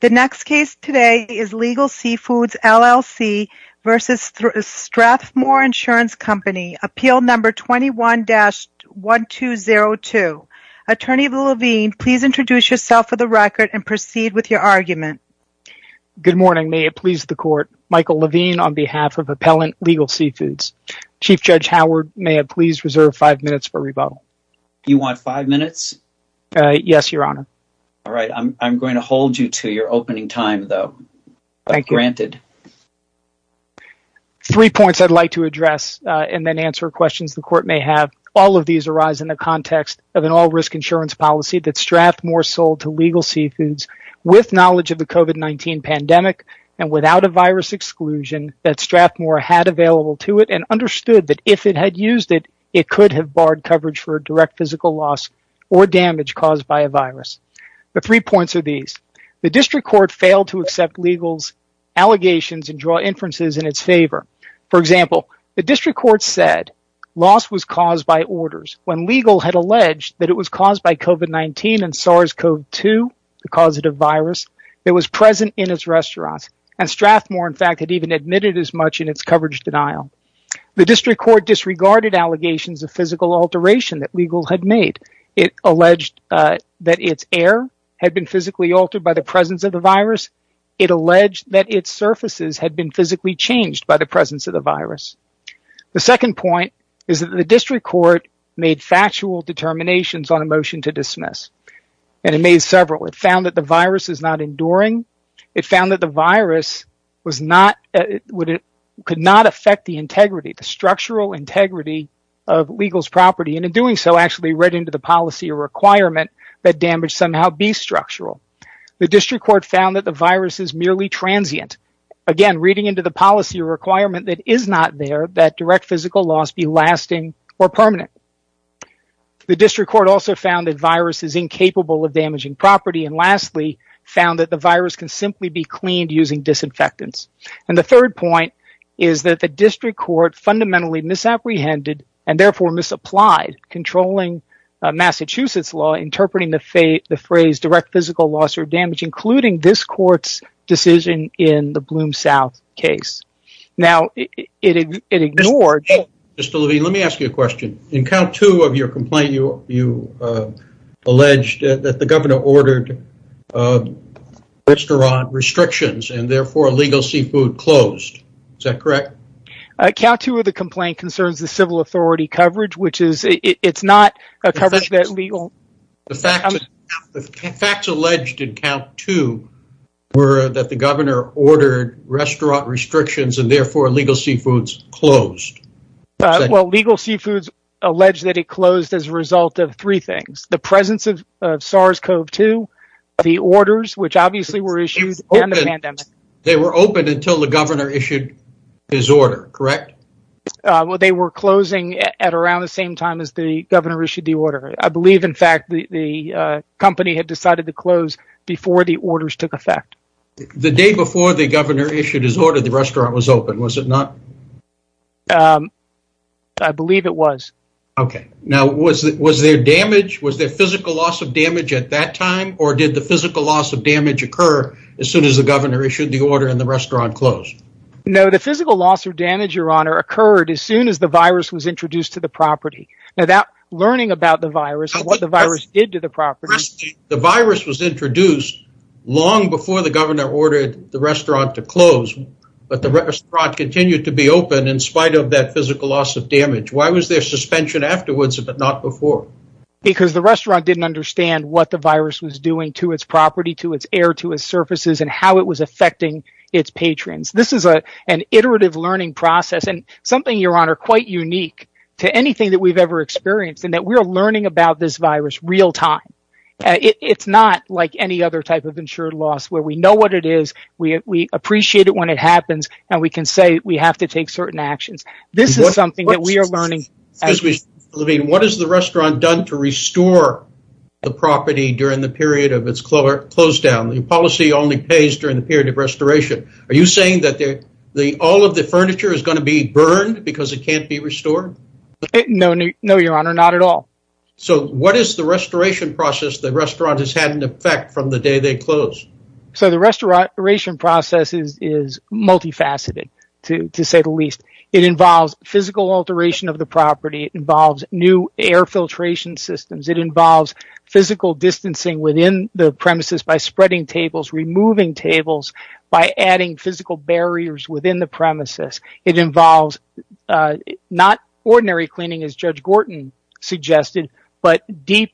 The next case today is Legal Sea Foods, LLC v. Strathmore Insurance Company, Appeal Number 21-1202. Attorney Levine, please introduce yourself for the record and proceed with your argument. Good morning. May it please the court, Michael Levine on behalf of Appellant Legal Sea Foods. Chief Judge Howard, may I please reserve five minutes for rebuttal? You want five minutes? Yes, Your Honor. All right. I'm going to hold you to your opening time, though, but granted. Three points I'd like to address and then answer questions the court may have. All of these arise in the context of an all-risk insurance policy that Strathmore sold to Legal Sea Foods with knowledge of the COVID-19 pandemic and without a virus exclusion that Strathmore had available to it and understood that if it had used it, it could have barred coverage for direct physical loss or damage caused by a virus. The three points are these. The district court failed to accept legal's allegations and draw inferences in its favor. For example, the district court said loss was caused by orders when legal had alleged that it was caused by COVID-19 and SARS-CoV-2, the causative virus, that was present in its restaurants and Strathmore, in fact, had even admitted as much in its coverage denial. The district court disregarded allegations of it alleged that its air had been physically altered by the presence of the virus. It alleged that its surfaces had been physically changed by the presence of the virus. The second point is that the district court made factual determinations on a motion to dismiss, and it made several. It found that the virus is not enduring. It found that the virus could not affect the integrity, the structural integrity of legal's property, and in doing so, read into the policy or requirement that damage somehow be structural. The district court found that the virus is merely transient, again, reading into the policy or requirement that is not there that direct physical loss be lasting or permanent. The district court also found that virus is incapable of damaging property, and lastly, found that the virus can simply be cleaned using disinfectants. The third point is that the district court fundamentally misapprehended and, therefore, misapplied controlling Massachusetts law interpreting the phrase direct physical loss or damage, including this court's decision in the Bloom South case. Now, it ignored... Mr. Levine, let me ask you a question. In count two of your complaint, you alleged that the governor ordered restaurant restrictions and, therefore, illegal seafood closed. Is that correct? Count two of the complaint concerns the civil authority coverage, which is... Facts alleged in count two were that the governor ordered restaurant restrictions and, therefore, illegal seafoods closed. Well, legal seafoods alleged that it closed as a result of three things. The presence of SARS-CoV-2, the orders, which obviously were issued... They were open until the governor issued his order, correct? Well, they were closing at around the same time as the governor issued the order. I believe, in fact, the company had decided to close before the orders took effect. The day before the governor issued his order, the restaurant was open, was it not? I believe it was. Okay. Now, was there damage? Was there physical loss of damage at that time, or did the physical loss of damage occur as soon as the governor issued the order and the restaurant closed? No, the physical loss or damage, Your Honor, occurred as soon as the virus was introduced to the property. Now, learning about the virus and what the virus did to the property... The virus was introduced long before the governor ordered the restaurant to close, but the restaurant continued to be open in spite of that physical loss of damage. Why was there suspension afterwards, but not before? Because the restaurant didn't understand what the virus was doing to its property, to its air, to its surfaces, and how it was affecting its patrons. This is an iterative learning process and something, Your Honor, quite unique to anything that we've ever experienced, and that we're learning about this virus real-time. It's not like any other type of insured loss where we know what it is, we appreciate it when it happens, and we can say we have to take certain actions. This is something that we are learning. I mean, what has the restaurant done to restore the property during the period of its closedown? The policy only pays during the period of restoration. Are you saying that all of the furniture is going to be burned because it can't be restored? No, Your Honor, not at all. So, what is the restoration process the restaurant has had in effect from the day they closed? So, the restoration process is multifaceted, to say the least. It involves physical alteration of the property. It involves new air filtration systems. It involves physical distancing within the premises by spreading tables, removing tables by adding physical barriers within the premises. It involves not ordinary cleaning, as Judge Gorton suggested, but deep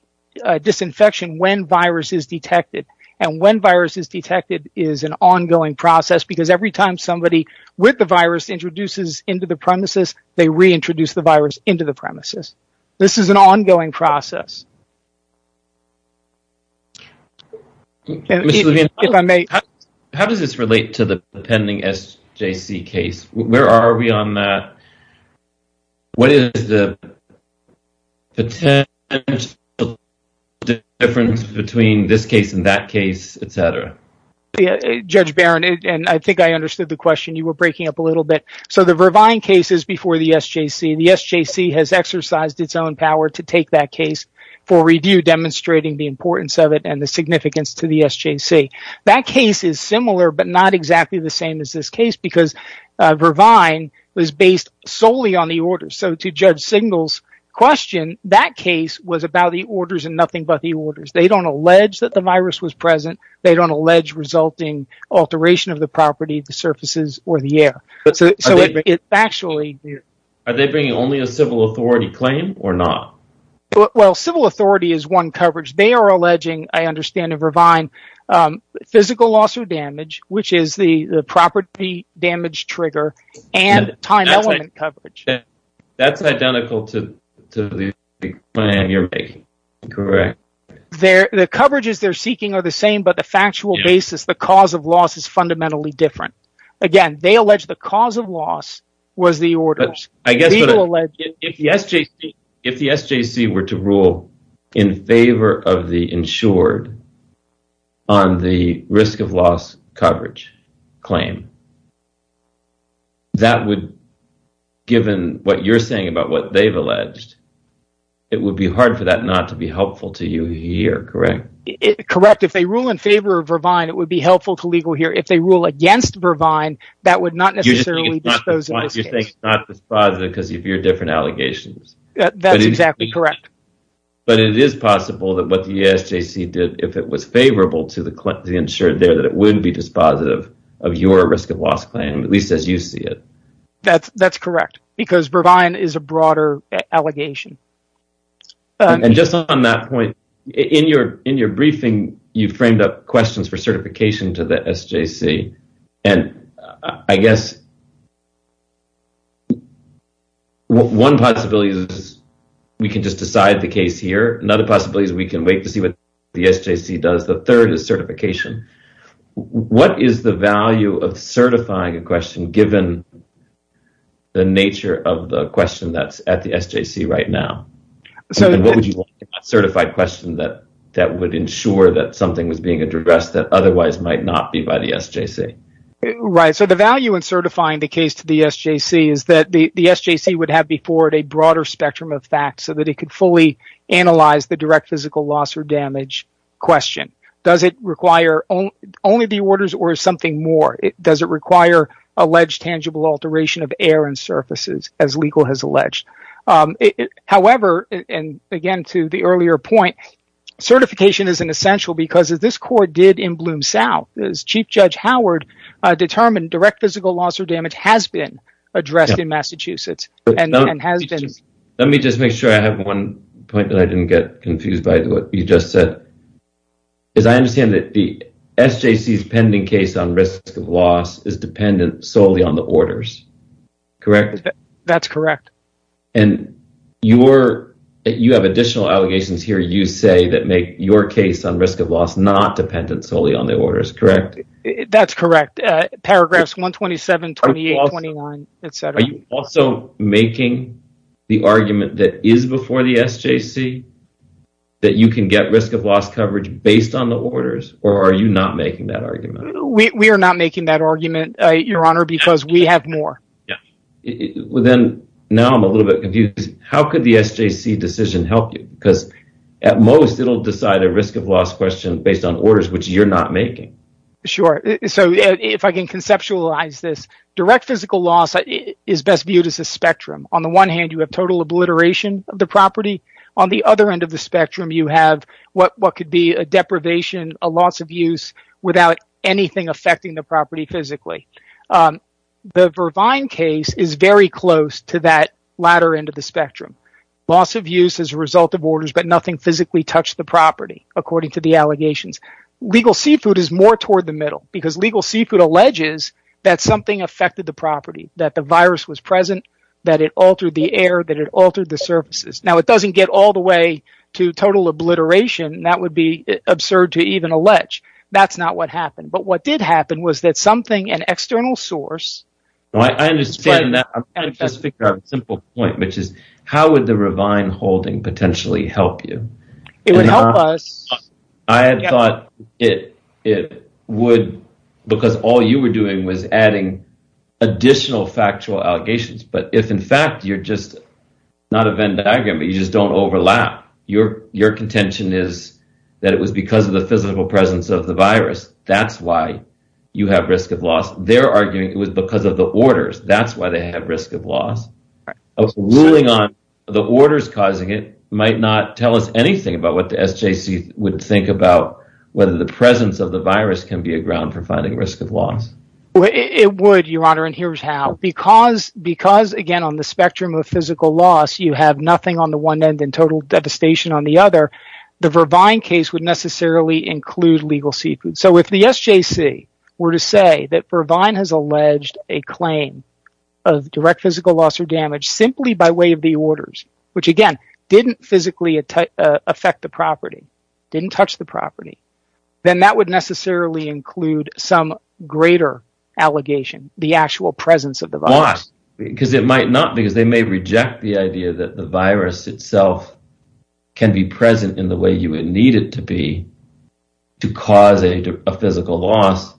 disinfection when virus is detected. And when virus is detected is an ongoing process because every time somebody with the virus introduces into the premises, they reintroduce the virus into the premises. This is an ongoing process. How does this relate to the pending SJC case? Where are we on that? What is the potential difference between this case and that case, etc.? Judge Barron, I think I understood the question you were breaking up a little bit. So, the Vervine case is before the SJC. The SJC has exercised its own power to take that case for review, demonstrating the importance of it and the significance to the SJC. That case is similar but not exactly the same as this case because Vervine was based solely on the order. So, to Judge Singal's question, that case was about the orders and nothing but the orders. They don't allege that the virus was present. They don't result in alteration of the property, the surfaces or the air. Are they bringing only a civil authority claim or not? Well, civil authority is one coverage. They are alleging, I understand in Vervine, physical loss or damage, which is the property damage trigger and time element coverage. That's identical to the claim you're making. Correct. The coverages they're seeking are the same but the factual basis, the cause of loss, is fundamentally different. Again, they allege the cause of loss was the orders. If the SJC were to rule in favor of the insured on the risk of loss coverage claim, that would, given what you're saying about what they've alleged, it would be hard for that not to be helpful to you here, correct? Correct. If they rule in favor of Vervine, it would be helpful to legal here. If they rule against Vervine, that would not necessarily dispose of this case. You think it's not dispositive because you hear different allegations. That's exactly correct. But it is possible that what the SJC did, if it was favorable to the insured there, it would be dispositive of your risk of loss claim, at least as you see it. That's correct because Vervine is a broader allegation. And just on that point, in your briefing, you framed up questions for certification to the SJC. I guess one possibility is we can just decide the case here. Another possibility is we can wait to certification. What is the value of certifying a question given the nature of the question that's at the SJC right now? What would you want a certified question that would ensure that something was being addressed that otherwise might not be by the SJC? The value in certifying the case to the SJC is that the SJC would have before it a broader Does it require only the orders or something more? Does it require alleged tangible alteration of air and surfaces as legal has alleged? However, and again to the earlier point, certification is essential because as this court did in Bloom South, as Chief Judge Howard determined, direct physical loss or damage has been addressed in Massachusetts. Let me just make sure I have one point that I didn't get confused by what you just said. As I understand it, the SJC's pending case on risk of loss is dependent solely on the orders, correct? That's correct. And you have additional allegations here, you say, that make your case on risk of loss not dependent solely on the orders, correct? That's correct. Paragraphs 127, 28, 29, etc. Are you also making the argument that is before the SJC that you can get risk of loss coverage based on the orders or are you not making that argument? We are not making that argument, Your Honor, because we have more. Then, now I'm a little bit confused. How could the SJC decision help you? Because at most, it will decide a risk of loss question based on orders, which you're not making. Sure. If I can conceptualize this, direct physical loss is best viewed as a spectrum. On the one hand, you have total obliteration of the property. On the other end of the spectrum, you have what could be a deprivation, a loss of use, without anything affecting the property physically. The Vervine case is very close to that latter end of the spectrum. Loss of use is a result of orders, but nothing physically touched the property, according to the allegations. Legal seafood is more toward the middle because legal seafood alleges that something affected the property, that the virus was present, that it altered the air, that it altered the surfaces. It doesn't get all the way to total obliteration. That would be absurd to even allege. That's not what happened. What did happen was that something, an external source... I understand that. I'm trying to just figure out a simple point, which is how would the Vervine holding potentially help you? It would help us... I had thought it would because all you were adding was additional factual allegations. If, in fact, you're just not a Venn diagram, but you just don't overlap, your contention is that it was because of the physical presence of the virus. That's why you have risk of loss. They're arguing it was because of the orders. That's why they have risk of loss. Ruling on the orders causing it might not tell us anything about what the SJC would think about whether the presence of the virus can be a ground for the risk of loss. It would, Your Honor. Here's how. Because, again, on the spectrum of physical loss, you have nothing on the one end and total devastation on the other, the Vervine case would necessarily include legal sequence. If the SJC were to say that Vervine has alleged a claim of direct physical loss or damage simply by way of the orders, which again didn't physically affect the property, didn't touch the property, then that would necessarily include some greater allegation, the actual presence of the virus. Why? Because it might not because they may reject the idea that the virus itself can be present in the way you would need it to be to cause a physical loss,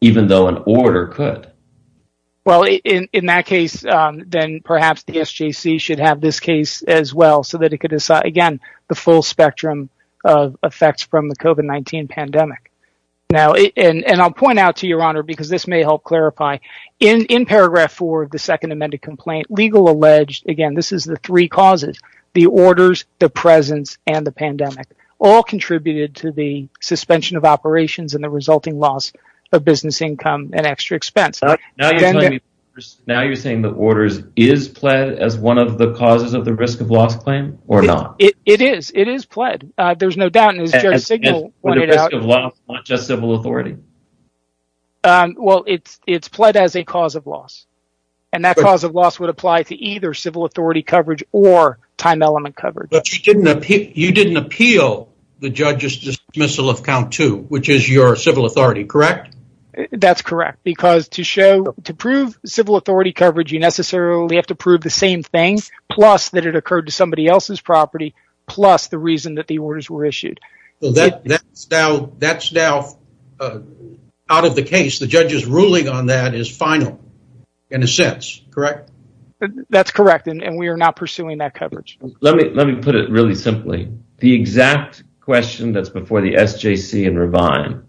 even though an order could. Well, in that case, then perhaps the SJC should have this case as well so that it could again, the full spectrum of effects from the COVID-19 pandemic. Now, and I'll point out to Your Honor, because this may help clarify, in paragraph four of the second amended complaint, legal alleged, again, this is the three causes, the orders, the presence and the pandemic all contributed to the suspension of operations and the resulting loss of business income and extra expense. Now you're saying that orders is played as one of the causes of the risk loss claim or not? It is. It is played. There's no doubt in his signal. Well, it's played as a cause of loss and that cause of loss would apply to either civil authority coverage or time element coverage. But you didn't appeal the judge's dismissal of count two, which is your civil authority, correct? That's correct. Because to show, to prove civil authority coverage, you necessarily have to prove the same thing, plus that it occurred to somebody else's property, plus the reason that the orders were issued. Well, that's now out of the case. The judge's ruling on that is final in a sense, correct? That's correct. And we are not pursuing that coverage. Let me put it really simply. The exact question that's before the SJC and Revine,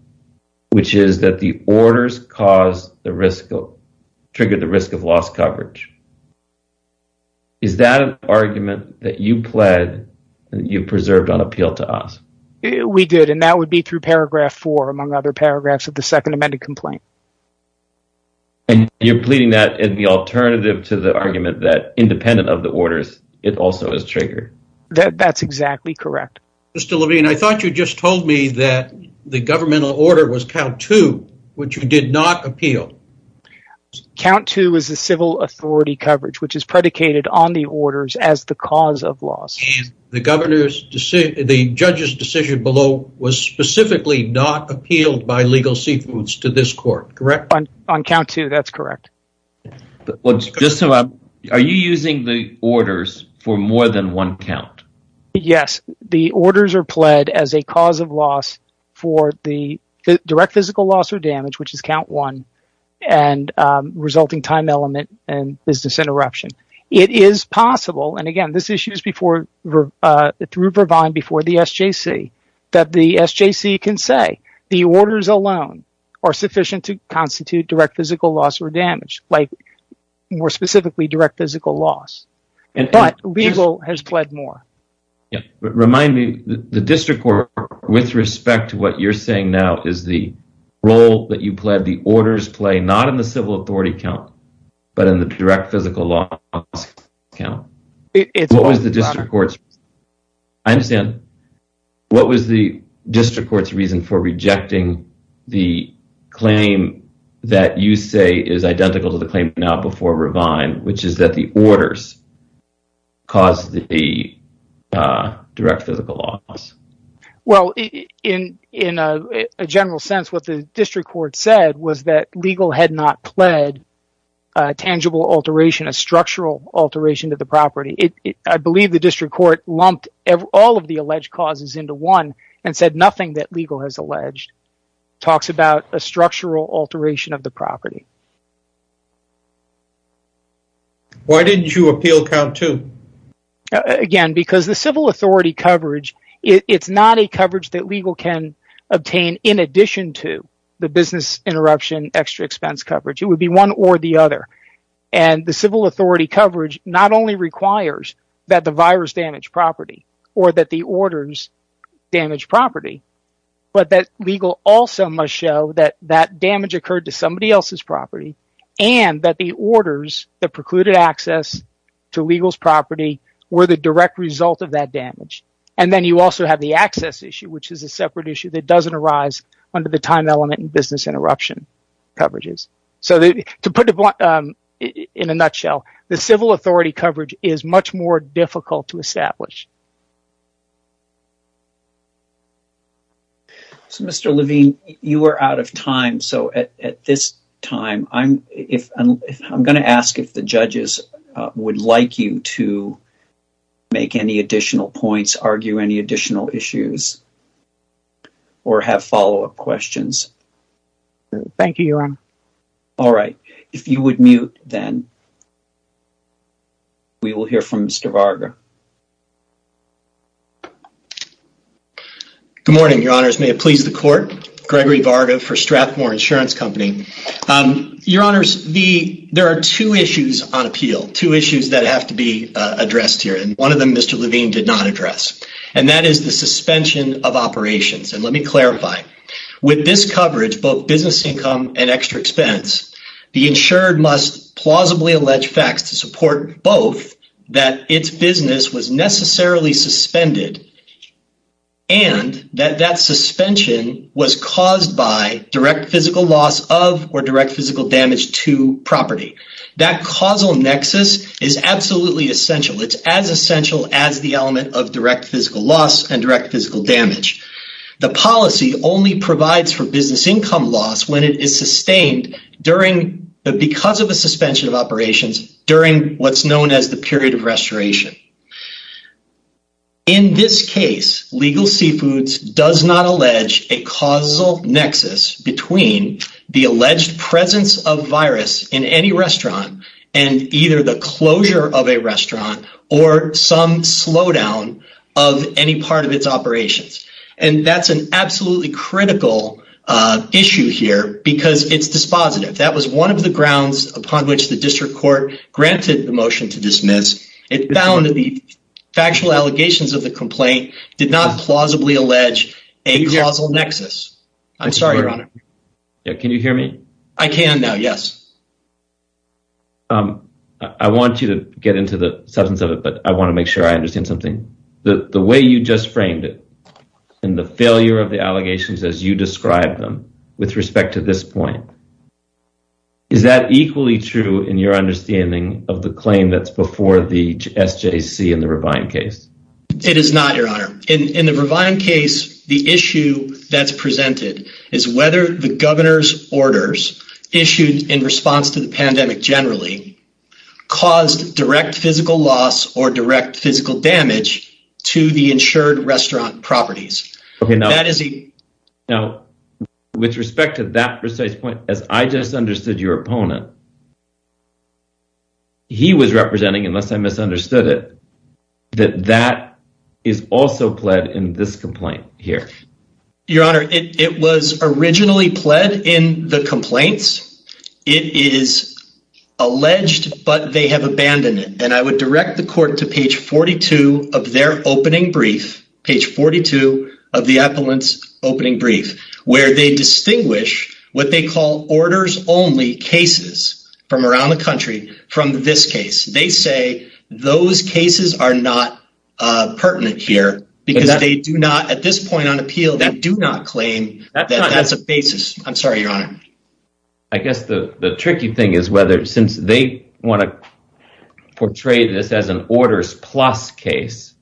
which is that the orders triggered the risk of loss coverage. Is that an argument that you pled that you preserved on appeal to us? We did. And that would be through paragraph four, among other paragraphs of the second amended complaint. And you're pleading that in the alternative to the argument that independent of the orders, it also is triggered. That's exactly correct. Mr. Levine, I thought you just told me that the governmental order was count two, which you did not appeal. Count two is the civil authority coverage, which is predicated on the orders as the cause of loss. And the judge's decision below was specifically not appealed by legal seafoods to this court, correct? On count two, that's correct. Are you using the orders for more than one count? Yes. The orders are pled as a cause of loss for the direct physical loss or damage, which is count one and resulting time element and business interruption. It is possible. And again, this issue is before through Revine before the SJC that the SJC can say the orders alone are sufficient to constitute direct physical loss or damage, like more specifically direct physical loss. But legal has pled more. Remind me, the district court with respect to what you're saying now is the role that you pled, the orders play not in the civil authority count, but in the direct physical law count. What was the district court's reason for rejecting the claim that you say is identical to the claim now before Revine, which is that the orders caused the direct physical loss? Well, in a general sense, what the district court said was that legal had not pled a tangible alteration, a structural alteration to the property. I believe the district court lumped all of the alleged causes into one and said nothing that legal has alleged. Talks about a structural alteration of the property. Why didn't you appeal count two? Again, because the civil authority coverage, it's not a coverage that legal can obtain in addition to the business interruption, extra expense coverage. It would be one or the other. And the civil authority coverage not only that the virus damaged property or that the orders damaged property, but that legal also must show that that damage occurred to somebody else's property and that the orders that precluded access to legal's property were the direct result of that damage. And then you also have the access issue, which is a separate issue that doesn't arise under the time element and business interruption coverages. So to put it in a nutshell, the civil authority coverage is much more difficult to establish. So Mr. Levine, you are out of time. So at this time, I'm going to ask if the judges would like you to make any additional points, argue any Thank you, Your Honor. All right. If you would mute, then we will hear from Mr. Varga. Good morning, Your Honors. May it please the court. Gregory Varga for Strathmore Insurance Company. Your Honors, there are two issues on appeal, two issues that have to be addressed here. And one of them, Mr. Levine did not address. And that is the suspension of operations. And let me clarify. With this coverage, both business income and extra expense, the insured must plausibly allege facts to support both that its business was necessarily suspended and that that suspension was caused by direct physical loss of or direct physical damage to property. That causal nexus is absolutely essential. It's as essential as the element of direct physical loss and direct physical damage. The policy only provides for business income loss when it is sustained during because of a suspension of operations during what's known as the period of restoration. In this case, legal seafoods does not allege a causal nexus between the alleged presence of virus in any restaurant and either the closure of a restaurant or some slowdown of any part of its operations. And that's an absolutely critical issue here because it's dispositive. That was one of the grounds upon which the district court granted the motion to dismiss. It found that the factual allegations of the complaint did not plausibly allege a causal nexus. I'm sorry, Your Honor. Can you hear me? I can now, yes. I want you to get into the substance of it, but I want to make sure I understand something. The way you just framed it and the failure of the allegations as you describe them with respect to this point, is that equally true in your understanding of the claim that's before the SJC in the Revine case? It is not, Your Honor. In the Revine case, the issue that's presented is whether the governor's orders issued in response to the direct physical damage to the insured restaurant properties. Now, with respect to that precise point, as I just understood your opponent, he was representing, unless I misunderstood it, that that is also pled in this complaint here. Your Honor, it was originally pled in the complaints. It is alleged, but they have abandoned and I would direct the court to page 42 of their opening brief, page 42 of the appellant's opening brief, where they distinguish what they call orders only cases from around the country from this case. They say those cases are not pertinent here because they do not, at this point on appeal, they do not claim that that's a basis. I'm sorry, Your Honor. I guess the tricky thing is whether since they want to portray this as an orders plus case,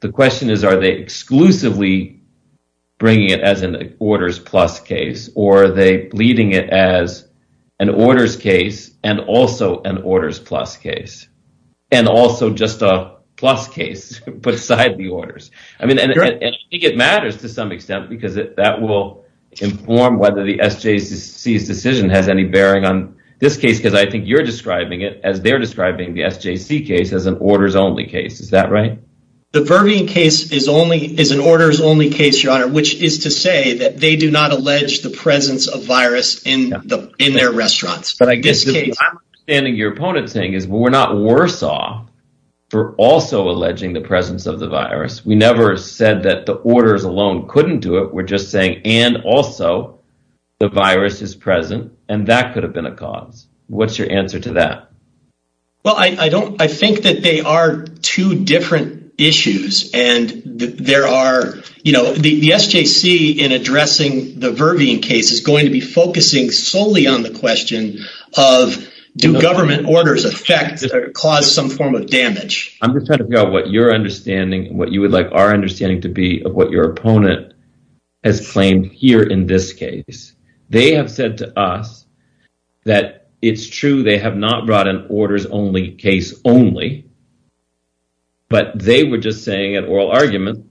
the question is, are they exclusively bringing it as an orders plus case or are they leading it as an orders case and also an orders plus case and also just a plus case beside the orders? I mean, I think it matters to some extent because that will inform whether the SJC's decision has any bearing on this case because I think you're describing it as they're describing the SJC case as an orders only case. Is that right? The Vervian case is an orders only case, Your Honor, which is to say that they do not allege the presence of virus in their restaurants. But I guess what I'm understanding your opponent's saying is we're not worse off for also alleging the presence of the virus. We never said that the orders alone couldn't do it. We're just saying and also the virus is present and that could have been a cause. What's your answer to that? Well, I think that they are two different issues and there are, you know, the SJC in addressing the Vervian case is going to be focusing solely on the question of do government orders affect or cause some form of damage. I'm just trying to figure out what your understanding and what you would like our understanding to be of what your opponent has claimed here in this case. They have said to us that it's true they have not brought an orders only case only, but they were just saying at oral argument,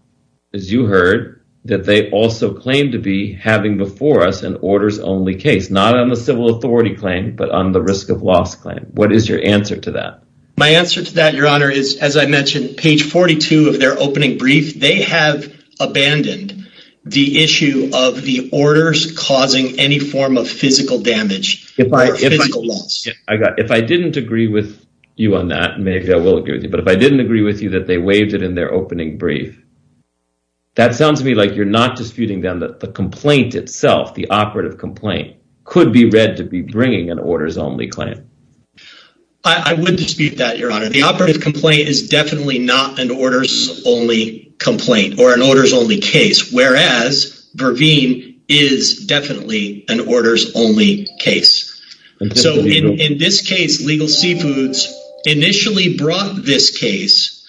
as you heard, that they also claim to be having before us an orders only case, not on the civil authority claim, but on the risk of loss claim. What is your answer to that? My answer to that, your honor, is, as I mentioned, page 42 of their opening brief, they have abandoned the issue of the orders causing any form of physical damage. If I didn't agree with you on that, maybe I will agree with you, but if I didn't agree with you that they waived it in their opening brief, that sounds to me like you're not disputing them that the complaint itself, the operative complaint, could be read to be bringing an orders only claim. I would dispute that, your honor. The operative complaint is definitely not an orders only complaint or an orders only case, whereas Verveen is definitely an orders only case. So, in this case, Legal Seafoods initially brought this case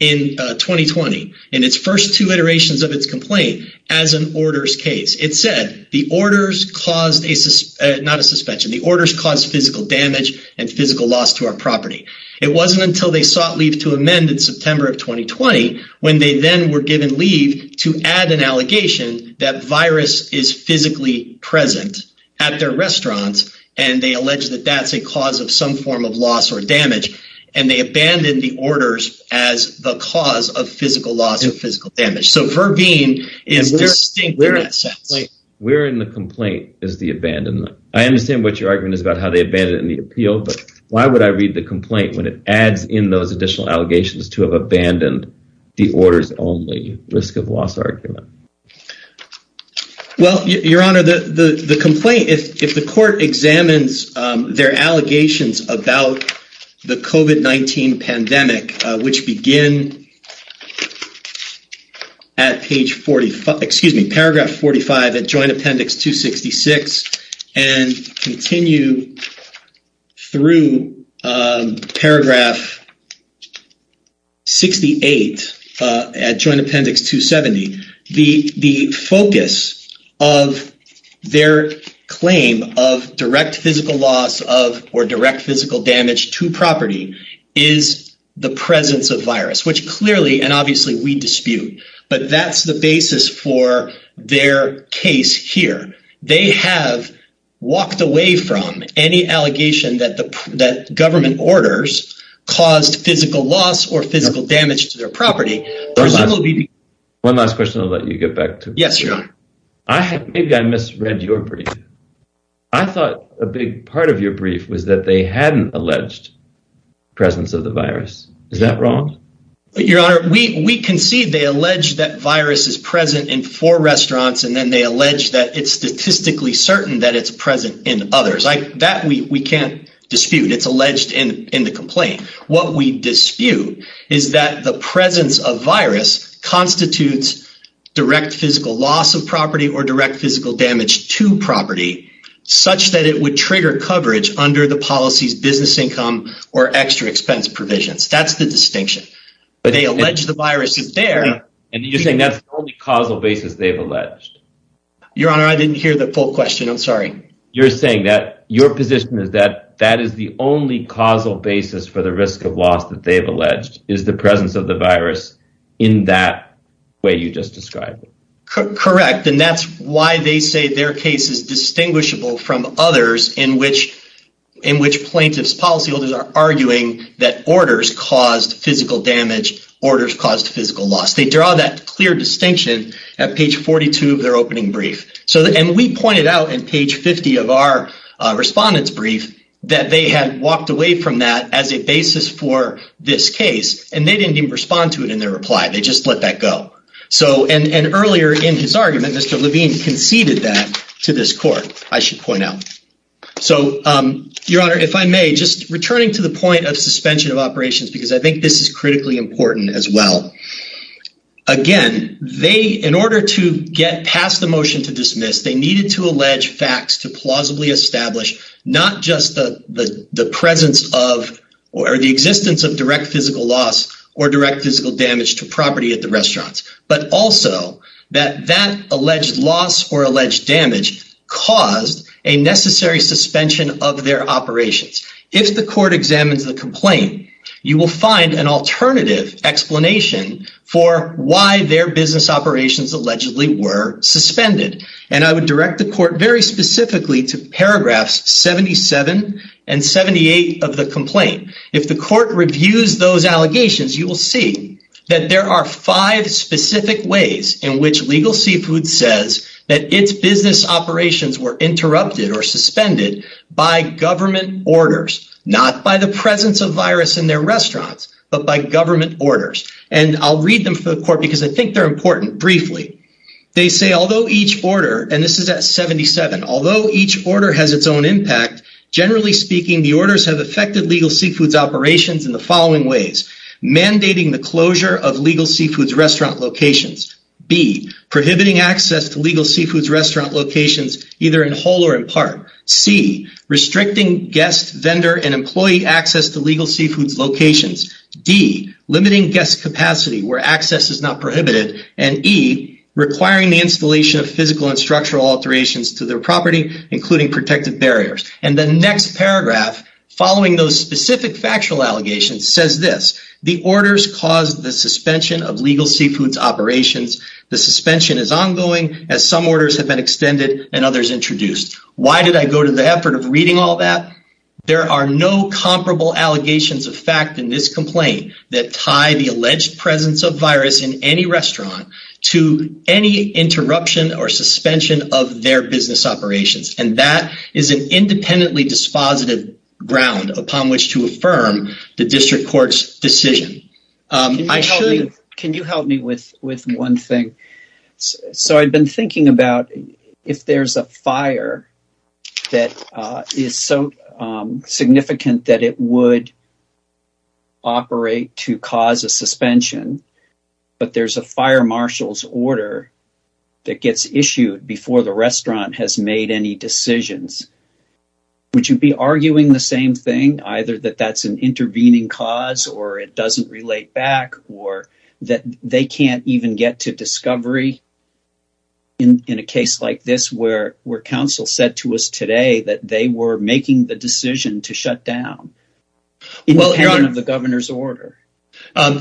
in 2020, in its first two iterations of its complaint, as an orders case. It said the orders caused a, not a suspension, the orders caused physical damage and physical loss to our property. It wasn't until they sought leave to amend in September of 2020, when they then were given leave to add an allegation that virus is physically present at their restaurants, and they allege that that's a cause of some form of loss or damage, and they abandoned the orders as the cause of physical loss and physical damage. So, Verveen is distinct in that sense. Where in the complaint is the abandonment? I understand what your argument is about how they abandoned it in the appeal, but why would I read the complaint when it adds in those additional allegations to have abandoned the orders only risk of loss argument? Well, your honor, the complaint, if the court examines their allegations about the COVID-19 pandemic, which begin at page 45, excuse me, paragraph 45 at joint appendix 266, and continue through paragraph 68 at joint appendix 270, the focus of their claim of direct physical loss of, or direct presence of virus, which clearly, and obviously we dispute, but that's the basis for their case here. They have walked away from any allegation that the government orders caused physical loss or physical damage to their property. One last question I'll let you get back to. Yes, your honor. Maybe I misread your brief. I thought a big part of your brief was that they hadn't alleged presence of the virus. Is that wrong? Your honor, we concede they allege that virus is present in four restaurants, and then they allege that it's statistically certain that it's present in others. That we can't dispute. It's alleged in the complaint. What we dispute is that the presence of virus constitutes direct physical loss of property or direct physical damage to property such that it would trigger coverage under the policy's business income or extra expense provisions. That's the distinction, but they allege the virus is there. And you're saying that's the only causal basis they've alleged? Your honor, I didn't hear the full question. I'm sorry. You're saying that your position is that that is the only causal basis for the risk of loss that they've alleged is the presence of the virus in that way you just described? Correct, and that's why they say their case is distinguishable from others in which plaintiff's policyholders are arguing that orders caused physical damage, orders caused physical loss. They draw that clear distinction at page 42 of their opening brief. And we pointed out in page 50 of our respondent's brief that they had walked away from that as a basis for this case, and they didn't even respond to it in their reply. They just let that go. So, and earlier in his argument, Mr. Levine conceded that to this court, I should point out. So, your honor, if I may, just returning to the point of suspension of operations because I think this is critically important as well. Again, they, in order to get past the motion to dismiss, they needed to allege facts to plausibly establish not just the presence of or the existence of at the restaurants, but also that that alleged loss or alleged damage caused a necessary suspension of their operations. If the court examines the complaint, you will find an alternative explanation for why their business operations allegedly were suspended. And I would direct the court very specifically to paragraphs 77 and 78 of the complaint. If the court reviews those allegations, you will see that there are five specific ways in which Legal Seafood says that its business operations were interrupted or suspended by government orders, not by the presence of virus in their restaurants, but by government orders. And I'll read them for the court because I think they're important. Briefly, they say, although each order, and this is at 77, although each order has its own impact, generally speaking, the orders have affected Legal Seafood's operations in the following ways. Mandating the closure of Legal Seafood's restaurant locations. B, prohibiting access to Legal Seafood's restaurant locations either in whole or in part. C, restricting guest vendor and employee access to Legal Seafood's locations. D, limiting guest capacity where access is not prohibited. And E, requiring the installation of physical and structural alterations to their property, including protective barriers. And the next paragraph, following those specific factual allegations, says this, the orders caused the suspension of Legal Seafood's operations. The suspension is ongoing as some orders have been extended and others introduced. Why did I go to the effort of reading all that? There are no comparable allegations of fact in this complaint that tie the alleged presence of virus in any restaurant to any interruption or suspension of their business operations. And that is an independently dispositive ground upon which to affirm the district court's decision. Can you help me with one thing? So I've been thinking about if there's a fire that is so significant that it would operate to cause a suspension, but there's a fire marshal's order that gets issued before the restaurant has made any decisions, would you be arguing the same thing? Either that that's an intervening cause or it doesn't relate back or that they can't even get to discovery in a case like this where counsel said to us today that they were making the decision to shut down, independent of the governor's order?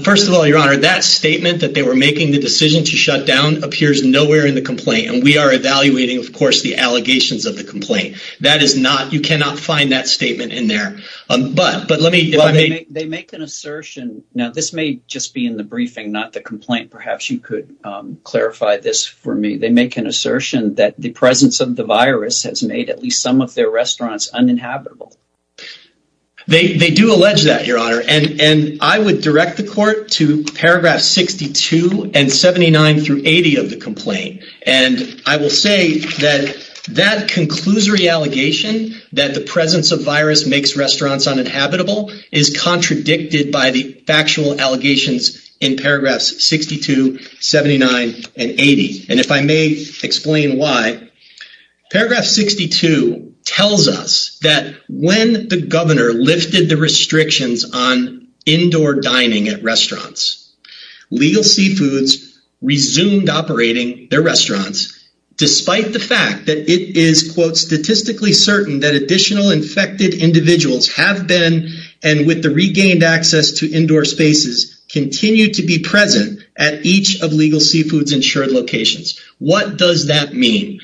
First of all, your honor, that statement that they were making the decision to shut down appears nowhere in the complaint. And we are evaluating, of course, the allegations of the complaint. That is not, you cannot find that statement in there. But, but let me, they make an assertion. Now this may just be in the briefing, not the complaint. Perhaps you could clarify this for me. They make an assertion that the presence of the virus has made at least some of their restaurants uninhabitable. They do allege that, your honor. And I would direct the court to paragraph 62 and 79 through 80 of the complaint. And I will say that that conclusory allegation that the presence of virus makes restaurants uninhabitable is contradicted by the factual allegations in paragraphs 62, 79 and 80. And if I may explain why, paragraph 62 tells us that when the governor lifted the restrictions on indoor dining at restaurants, legal seafoods resumed operating their restaurants, despite the fact that it is quote statistically certain that additional infected individuals have been and with the regained access to indoor spaces continue to be present at each of legal seafoods insured locations. What does that mean?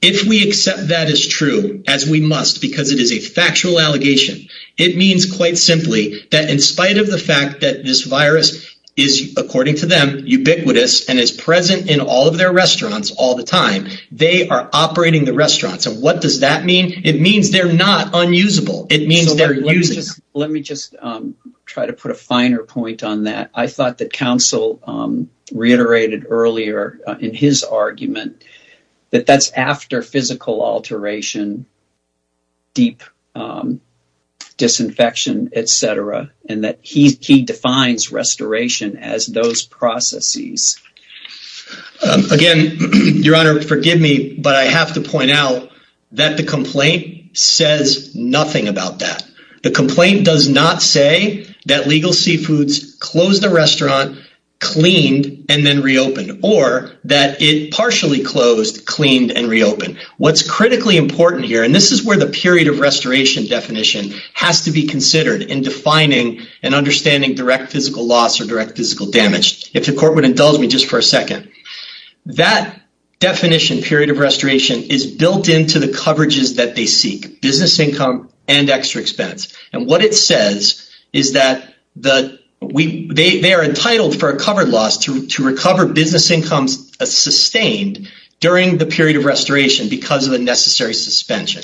If we accept that as true as we must, because it is a factual allegation, it means quite simply that in spite of the fact that this virus is according to them ubiquitous and is present in all of their restaurants all the time, they are operating the restaurants. And what does that mean? It means they're not unusable. It means they're using them. Let me just try to put a finer point on that. I thought that counsel reiterated earlier in his argument that that's after physical alteration, deep disinfection, et cetera, and that he defines restoration as those processes. Again, your honor, forgive me, but I have to point out that the complaint says nothing about that. The complaint does not say that legal seafoods closed the restaurant, cleaned and then reopened, or that it partially closed, cleaned and reopened. What's critically important here, and this is where the period of restoration definition has to be considered in defining and understanding direct physical loss or direct physical damage. If the court would indulge me, just for a second, that definition period of restoration is built into the coverages that they seek, business income and extra expense. And what it says is that they are entitled for a covered loss to recover business incomes sustained during the period of restoration because of a necessary suspension.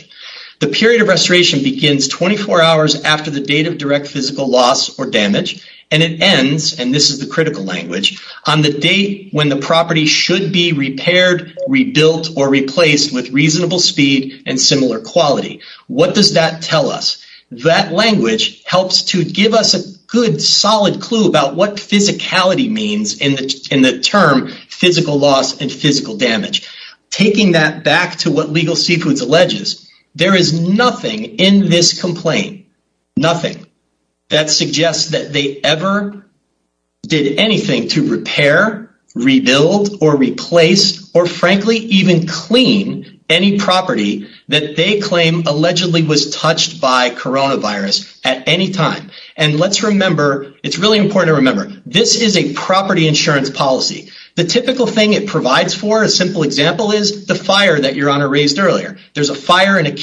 The period of restoration begins 24 hours after the date of critical language on the date when the property should be repaired, rebuilt, or replaced with reasonable speed and similar quality. What does that tell us? That language helps to give us a good solid clue about what physicality means in the term physical loss and physical damage. Taking that back to what legal seafoods alleges, there is nothing in this complaint, nothing, that suggests that they ever did anything to repair, rebuild, or replace, or frankly, even clean any property that they claim allegedly was touched by coronavirus at any time. And let's remember, it's really important to remember, this is a property insurance policy. The typical thing it provides for a simple example is the fire that your honor raised earlier. There's a fire in a They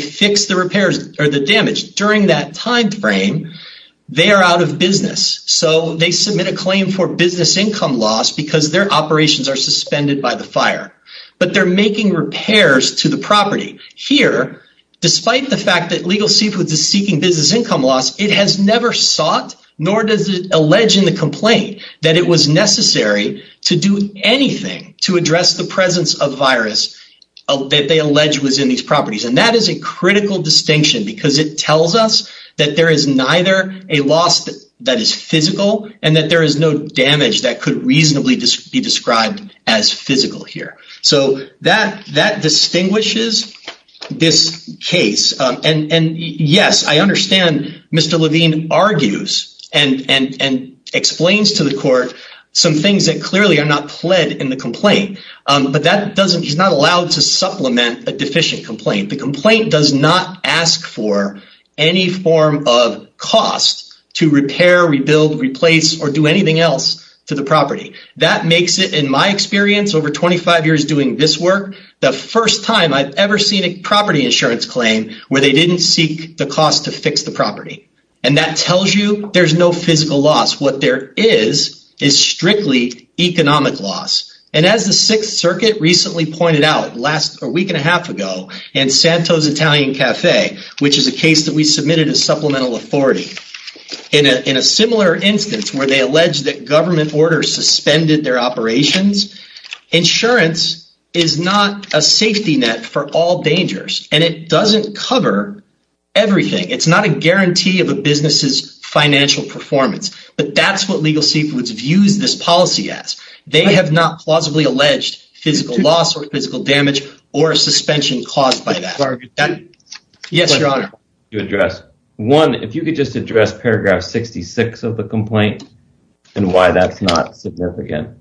fix the repairs or the damage during that time frame. They are out of business, so they submit a claim for business income loss because their operations are suspended by the fire. But they're making repairs to the property. Here, despite the fact that legal seafoods is seeking business income loss, it has never sought, nor does it allege in the complaint, that it was necessary to do anything to address the presence of virus that they allege was in these properties. And that is a critical distinction because it tells us that there is neither a loss that is physical and that there is no damage that could reasonably be described as physical here. So that distinguishes this case. And yes, I understand Mr. Levine argues and explains to some things that clearly are not pled in the complaint. But he's not allowed to supplement a deficient complaint. The complaint does not ask for any form of cost to repair, rebuild, replace, or do anything else to the property. That makes it, in my experience, over 25 years doing this work, the first time I've ever seen a property insurance claim where they didn't seek the cost to fix the property. And that tells you there's no physical loss. What there is, is strictly economic loss. And as the Sixth Circuit recently pointed out a week and a half ago in Santos Italian Cafe, which is a case that we submitted as supplemental authority, in a similar instance where they allege that government orders suspended their operations, insurance is not a safety net for all dangers. And it doesn't cover everything. It's not a guarantee of a business's financial performance. But that's what Legal Seekers views this policy as. They have not plausibly alleged physical loss or physical damage or a suspension caused by that. Yes, Your Honor. One, if you could just address paragraph 66 of the complaint and why that's not significant.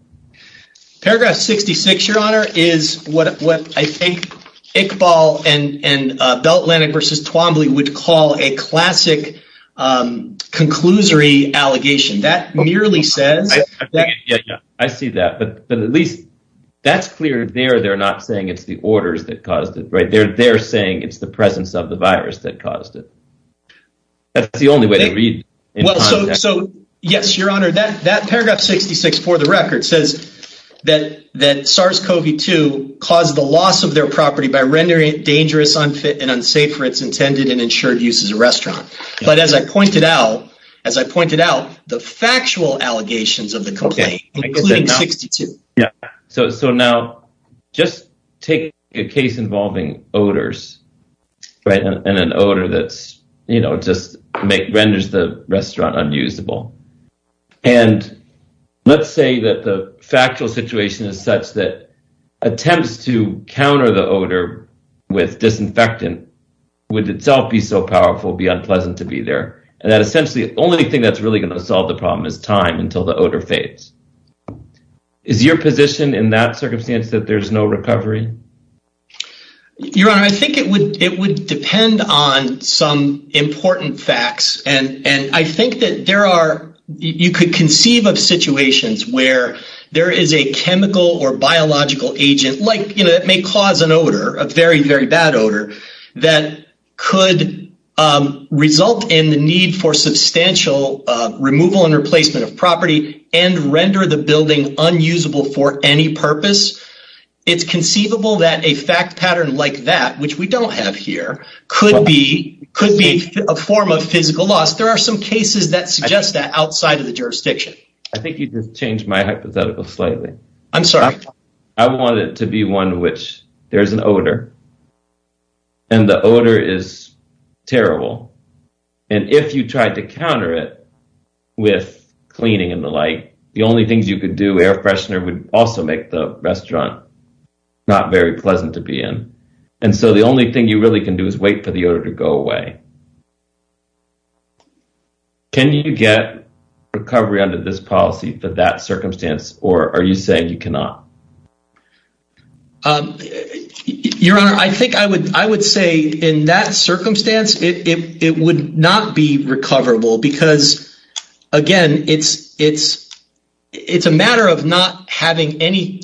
Paragraph 66, Your Honor, is what I think Iqbal and Bell Atlantic versus Twombly would call a classic conclusory allegation. That merely says... I see that. But at least that's clear there. They're not saying it's the orders that caused it, right? They're saying it's the presence of the virus that caused it. That's the only way Well, so yes, Your Honor, that paragraph 66 for the record says that SARS-CoV-2 caused the loss of their property by rendering it dangerous, unfit, and unsafe for its intended and ensured use as a restaurant. But as I pointed out, the factual allegations of the complaint, including 62. Yeah. So now just take a case involving odors, right? And an odor that's, you know, renders the restaurant unusable. And let's say that the factual situation is such that attempts to counter the odor with disinfectant would itself be so powerful, be unpleasant to be there. And that essentially the only thing that's really going to solve the problem is time until the odor fades. Is your position in that circumstance that there's no recovery? Your Honor, I think it would depend on some important facts. And I think that there are, you could conceive of situations where there is a chemical or biological agent like, you know, it may cause an odor, a very, very bad odor that could result in the need for substantial removal and replacement of property and render the building unusable for any purpose. It's conceivable that a fact pattern like that, which we don't have here, could be a form of physical loss. There are some cases that suggest that outside of the jurisdiction. I think you just changed my hypothetical slightly. I'm sorry. I want it to be one which there's an odor and the odor is terrible. And if you tried to counter it with cleaning and the only things you could do, air freshener, would also make the restaurant not very pleasant to be in. And so the only thing you really can do is wait for the odor to go away. Can you get recovery under this policy for that circumstance or are you saying you cannot? Your Honor, I think I would say in that circumstance, it would not be recoverable because, again, it's a matter of not having any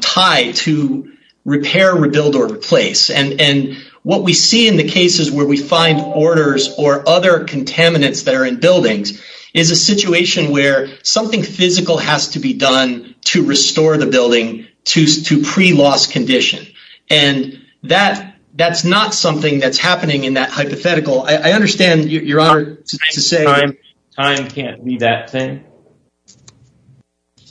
tie to repair, rebuild or replace. And what we see in the cases where we find orders or other contaminants that are in buildings is a situation where something physical has to be done to restore the building to pre-loss condition. And that's not something that's happening in that hypothetical. I understand Your Honor, time can't be that thing.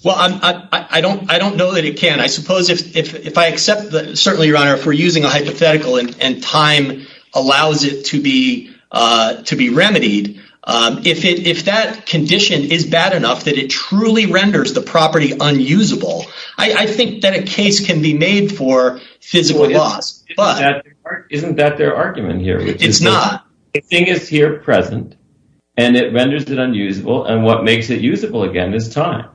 Well, I don't know that it can. I suppose if I accept that, certainly, Your Honor, if we're using a hypothetical and time allows it to be remedied, if that condition is bad enough that it truly renders the property unusable, I think that a case can be made for physical loss. Isn't that their argument here? It's not. The thing is here present and it renders it unusable and what makes it usable again is time.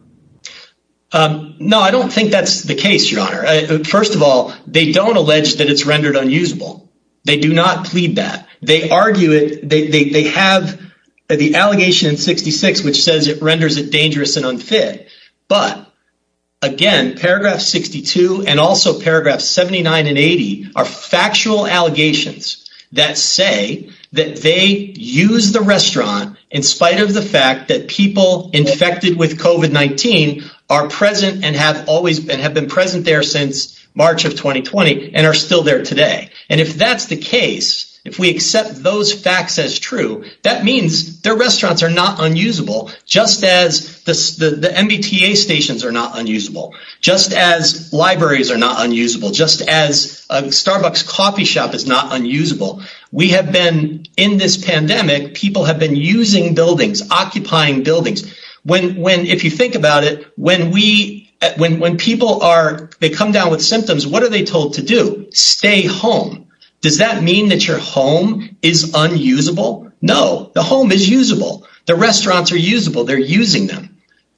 No, I don't think that's the case, Your Honor. First of all, they don't allege that it's rendered unusable. They do not plead that. They argue it. They have the allegation in 66, which says it renders it dangerous and unfit. But again, paragraph 62 and also paragraph 79 and 80 are factual allegations that say that they use the restaurant in spite of the fact that people infected with COVID-19 are present and have always been have been present there since March of 2020 and are still there today. And if that's the case, if we accept those facts as true, that means their restaurants are not unusable, just as the MBTA stations are not unusable, just as libraries are not unusable, just as a Starbucks coffee shop is not unusable. We have been in this pandemic. People have been using buildings, occupying buildings. When when if you think about it, when we when when people are they come down with symptoms, what are they told to do? Stay home. Does that mean that your home is unusable? No, the home is usable. The restaurants are usable. They're using them,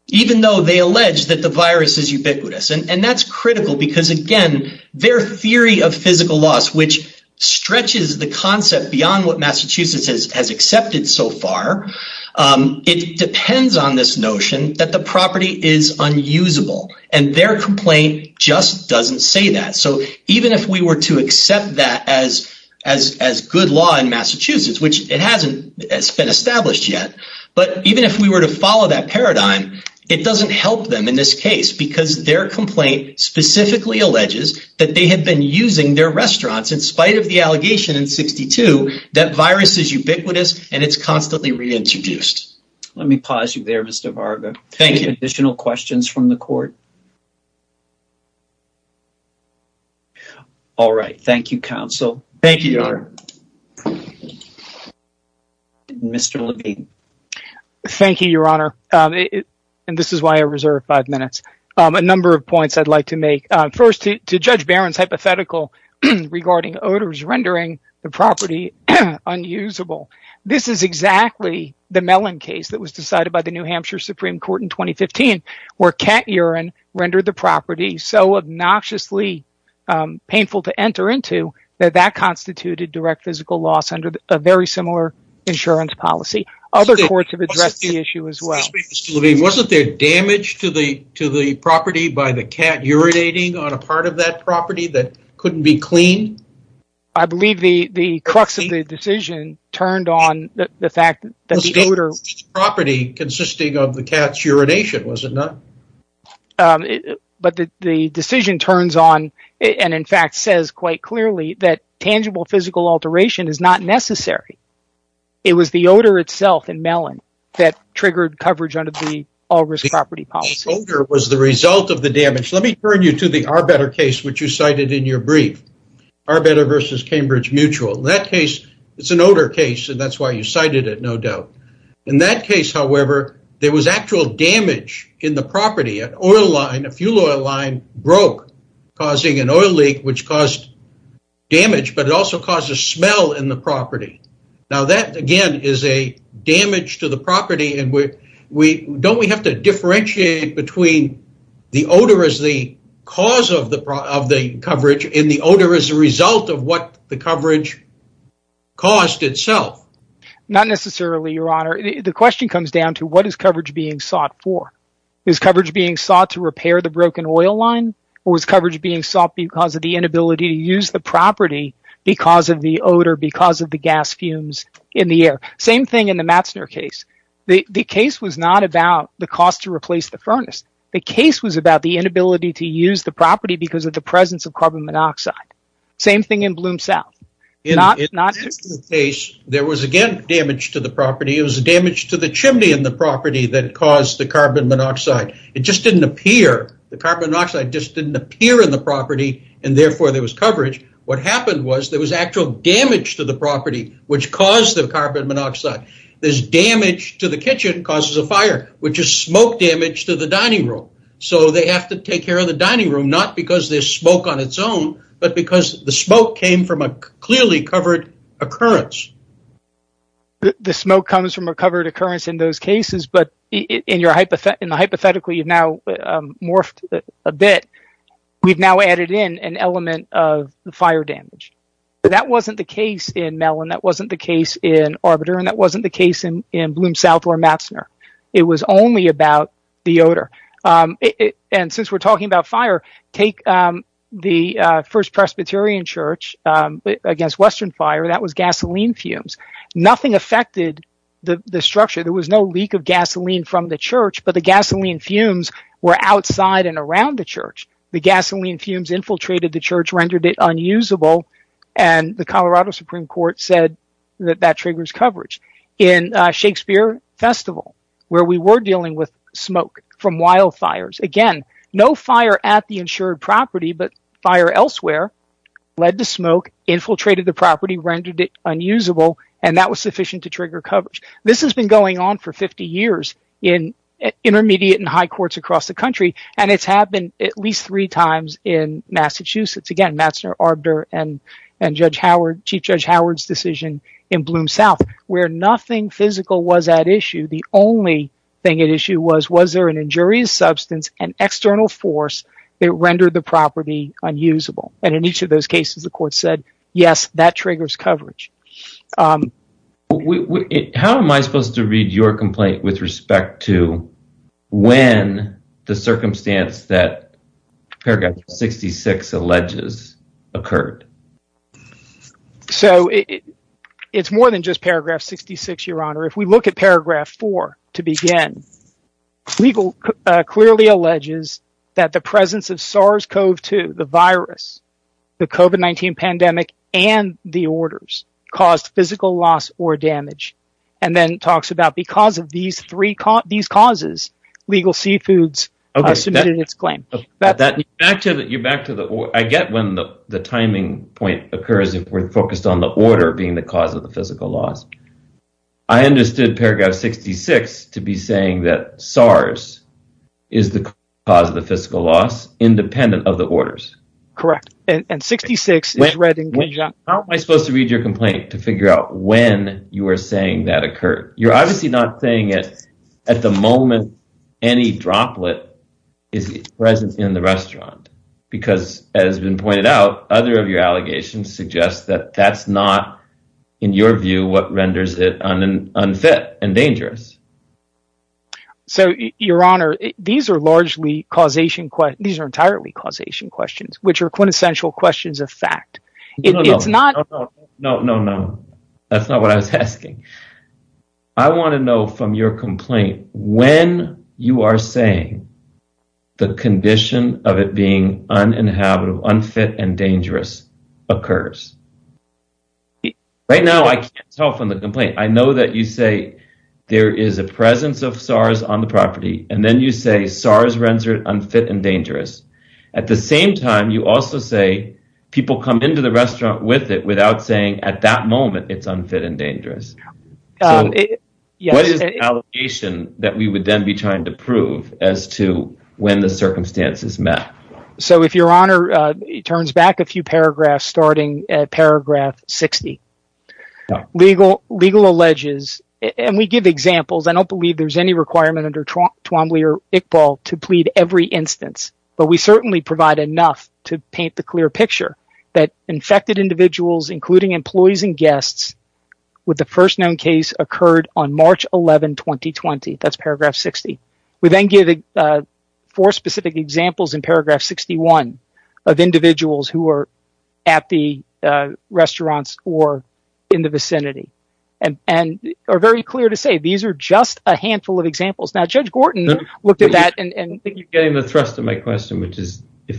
even though they allege that the virus is ubiquitous. And that's critical because, again, their theory of physical loss, which stretches the concept beyond what Massachusetts has has accepted so far. It depends on this notion that the property is unusable and their complaint just doesn't say that. So even if we were to accept that as as as good law in Massachusetts, which it hasn't been established yet, but even if we were to follow that paradigm, it doesn't help them in this case because their complaint specifically alleges that they have been using their restaurants in spite of the allegation in 62 that virus is ubiquitous and it's constantly reintroduced. Let me pause you there, Mr. Varga. Thank you. Additional questions from the court? All right. Thank you, counsel. Thank you, Your Honor. Mr. Levine. Thank you, Your Honor. And this is why I reserve five minutes. A number of points I'd like to make first to Judge Barron's hypothetical regarding odors, rendering the property unusable. This is exactly the melon case that was decided by the New Hampshire Supreme Court in 2015, where cat urine rendered the property so obnoxiously painful to enter into that that constituted direct physical loss under a very similar insurance policy. Other courts have addressed the issue as well. Wasn't there damage to the to the property by the cat urinating on a part of that property that couldn't be cleaned? I believe the the crux of the decision turned on the fact that the odor property consisting of the cat's urination, was it not? But the decision turns on and in fact, says quite clearly that tangible physical alteration is not necessary. It was the odor itself in melon that triggered coverage under the all risk property policy was the result of the damage. Let me turn you to the are better case, which you cited in your brief, are better versus Cambridge Mutual. In that case, it's an odor case, and that's why you cited it, no doubt. In that case, however, there was actual damage in the property, an oil line, a fuel oil line broke, causing an oil leak, which caused damage, but it also caused a smell in the property. Now that again, is a damage to the property and we don't we have to differentiate between the odor is the cause of the of the coverage in the odor as a result of what the coverage cost itself? Not necessarily, your honor. The question comes down to what is coverage being sought for? Is coverage being sought to repair the broken oil line? Or was coverage being sought because of the inability to use the property because of the odor because of the gas fumes in the air? Same thing in the Matzner case. The case was not about the cost to replace the furnace. The case was about the inability to use the property because of the presence of carbon monoxide. Same thing in Bloom South. In that case, there was again damage to the property. It was damage to the chimney in the property that caused the carbon monoxide. It just didn't appear. The carbon monoxide just didn't appear in the property and therefore there was coverage. What happened was there was actual damage to the property which caused the carbon monoxide. This damage to the kitchen causes a fire which is smoke damage to the dining room. So they have to take care of the dining room not because there's smoke on its own but because the smoke came from a clearly covered occurrence. The smoke comes from a covered occurrence in those cases but in the hypothetical you've now a bit. We've now added in an element of the fire damage. That wasn't the case in Mellon. That wasn't the case in Arbiter and that wasn't the case in Bloom South or Matzner. It was only about the odor. Since we're talking about fire, take the First Presbyterian Church against Western Fire. That was gasoline fumes. Nothing affected the structure. There was no leak of gasoline from the church but the gasoline fumes were outside and around the church. The gasoline fumes infiltrated the church and rendered it unusable and the Colorado Supreme Court said that that triggers coverage. In Shakespeare Festival where we were dealing with smoke from wildfires, again no fire at the insured property but fire elsewhere led to smoke, infiltrated the property, rendered it unusable and that was sufficient to trigger coverage. This has been going on for 50 years in intermediate and high courts across the country and it's happened at least three times in Massachusetts, Matzner, Arbiter and Chief Judge Howard's decision in Bloom South where nothing physical was at issue. The only thing at issue was, was there an injurious substance and external force that rendered the property unusable? In each of those cases, the court said yes, that triggers coverage. How am I supposed to read your complaint with respect to when the circumstance that paragraph 66 alleges occurred? So it's more than just paragraph 66, your honor. If we look at paragraph 4 to begin, legal clearly alleges that the presence of SARS-CoV-2, the virus, the COVID-19 pandemic and the orders caused physical loss or damage and then talks about because of these three, these causes, legal seafoods are submitted in its claim. I get when the timing point occurs if we're focused on the order being the cause of the physical loss. I understood paragraph 66 to be saying that SARS is the cause of the physical loss independent of the orders. How am I supposed to read your complaint to figure out when you are saying that occurred? You're obviously not saying it at the moment any droplet is present in the restaurant because as has been pointed out, other of your allegations suggest that that's not in your view, what renders it on an unfit and dangerous. So your honor, these are largely causation. These are entirely causation questions, which are quintessential questions of fact. No, no, no, no, no, no, no. That's not what I was asking. I want to know from your complaint, when you are saying the condition of it being unfit and dangerous occurs. Right now, I can't tell from the complaint. I know that you say there is a presence of SARS on the property and then you say SARS rendered unfit and dangerous. At the same time, you also say people come into the restaurant with it without saying at that moment it's unfit and dangerous. What is the allegation that we would then be trying to prove as to when the circumstances met? So if your honor turns back a few paragraphs starting at paragraph 60, legal alleges and we give examples. I don't believe there's any requirement under Twombly or Iqbal to plead every instance, but we certainly provide enough to paint the clear picture that infected individuals, including employees and guests with the first known case occurred on March 11, 2020. That's paragraph 60. We then give four specific examples in paragraph 61 of individuals who are at the restaurants or in the vicinity and are very clear to say these are just a handful of examples. If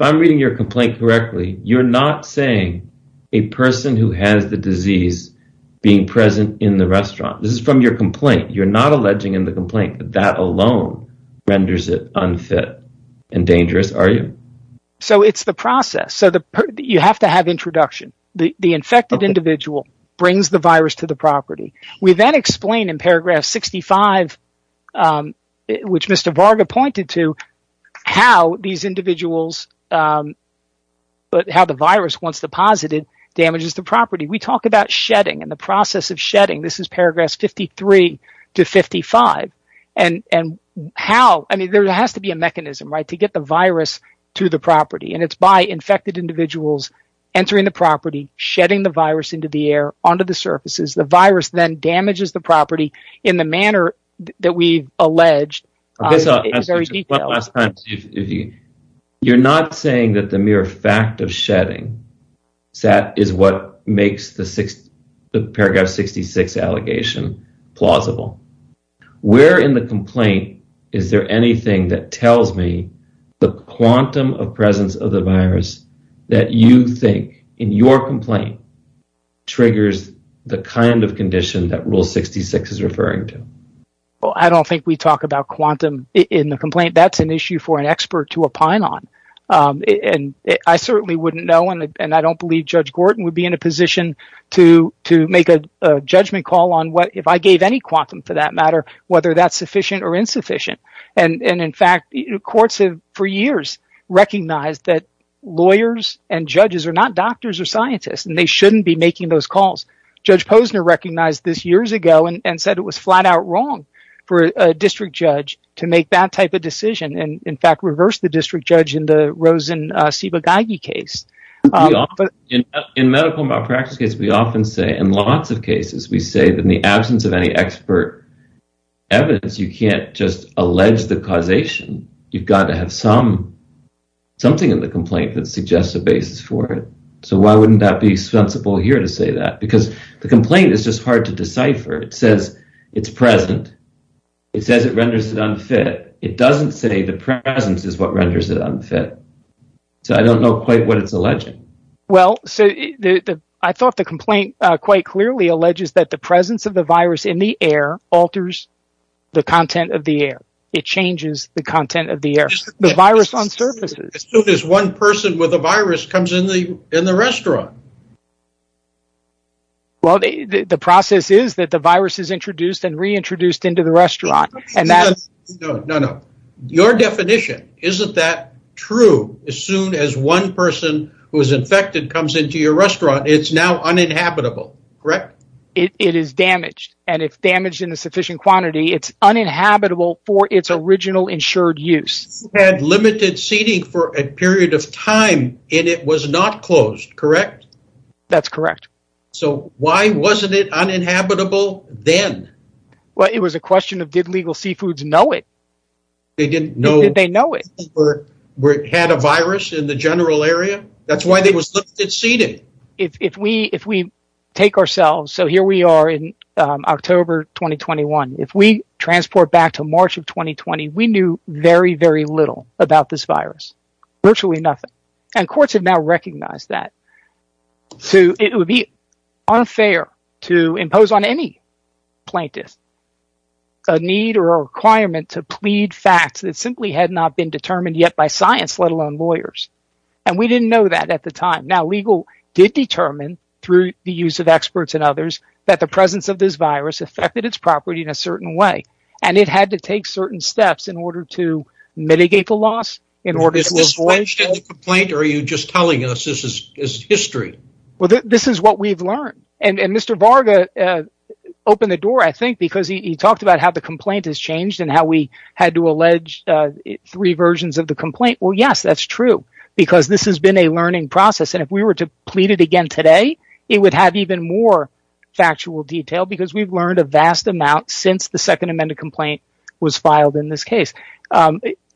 I'm reading your complaint correctly, you're not saying a person who has the disease being present in the restaurant. This is from your complaint. You're not alleging in the complaint that that alone renders it unfit and dangerous, are you? So it's the process. You have to have introduction. The infected individual brings the virus to the property. We then explain in paragraph 65, which Mr. Varga pointed to, how the virus once deposited damages the property. We talk about shedding and the process of shedding. This is paragraph 53-55. There has to be a mechanism to get the virus to the property and it's by infected individuals entering the property, shedding the virus into the air onto the surfaces. The virus then damages the property in the manner that we've alleged. You're not saying that the mere fact of shedding is what makes the paragraph 66 allegation plausible. Where in the complaint is there anything that tells me the quantum of presence of the virus that you think in your referring to? I don't think we talk about quantum in the complaint. That's an issue for an expert to opine on. I certainly wouldn't know and I don't believe Judge Gorton would be in a position to make a judgment call on what if I gave any quantum for that matter, whether that's sufficient or insufficient. In fact, courts have for years recognized that lawyers and judges are not doctors or scientists and they shouldn't be making those calls. Judge Posner recognized this and said it was flat out wrong for a district judge to make that type of decision and in fact reversed the district judge in the Rosen-Sibagaygi case. In medical malpractice cases, we often say and in lots of cases, we say that in the absence of any expert evidence, you can't just allege the causation. You've got to have something in the complaint that suggests a basis for it. Why wouldn't that be sensible here to say that because the complaint is just hard to decipher. It says it's present. It says it renders it unfit. It doesn't say the presence is what renders it unfit. I don't know quite what it's alleging. I thought the complaint quite clearly alleges that the presence of the virus in the air alters the content of the air. It changes the content of the air. The virus on surfaces. As soon as one person with a virus comes in the restaurant. The process is that the virus is introduced and reintroduced into the restaurant. Your definition, isn't that true? As soon as one person who is infected comes into your restaurant, it's now uninhabitable, correct? It is damaged and if damaged in a sufficient quantity, it's uninhabitable for its original insured use. It had limited seating for a period of time and it was not closed, correct? That's correct. Why wasn't it uninhabitable then? It was a question of did legal seafoods know it? They didn't know. Did they know it? They had a virus in the general transport back to March of 2020. We knew very, very little about this virus. Virtually nothing. Courts have now recognized that. It would be unfair to impose on any plaintiff a need or a requirement to plead facts that simply had not been determined yet by science, let alone lawyers. We didn't know that at the time. Legal did determine through the use of experts and others that the presence of this virus affected its property in a certain way and it had to take certain steps in order to mitigate the loss. Is this what we've learned? Mr. Varga opened the door I think because he talked about how the complaint has changed and how we had to allege three versions of the complaint. Yes, that's true because this has been a learning process and if we were to factual detail because we've learned a vast amount since the second amended complaint was filed in this case.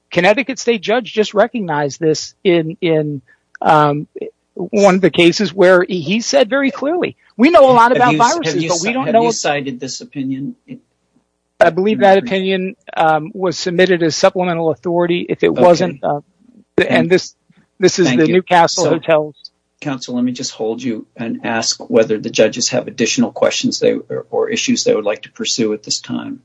Connecticut State Judge just recognized this in one of the cases where he said very clearly, we know a lot about viruses but we don't know. Have you cited this opinion? I believe that opinion was submitted as supplemental authority. If it wasn't, and this is the Newcastle Hotel. Counsel, let me just hold you and ask whether the judges have additional questions or issues they would like to pursue at this time.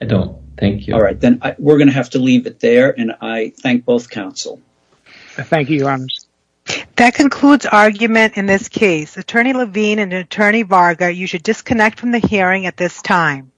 I don't. Thank you. All right, then we're going to have to leave it there and I thank both counsel. Thank you, Your Honor. That concludes argument in this case. Attorney Levine and Attorney Varga, you should disconnect from the hearing at this time.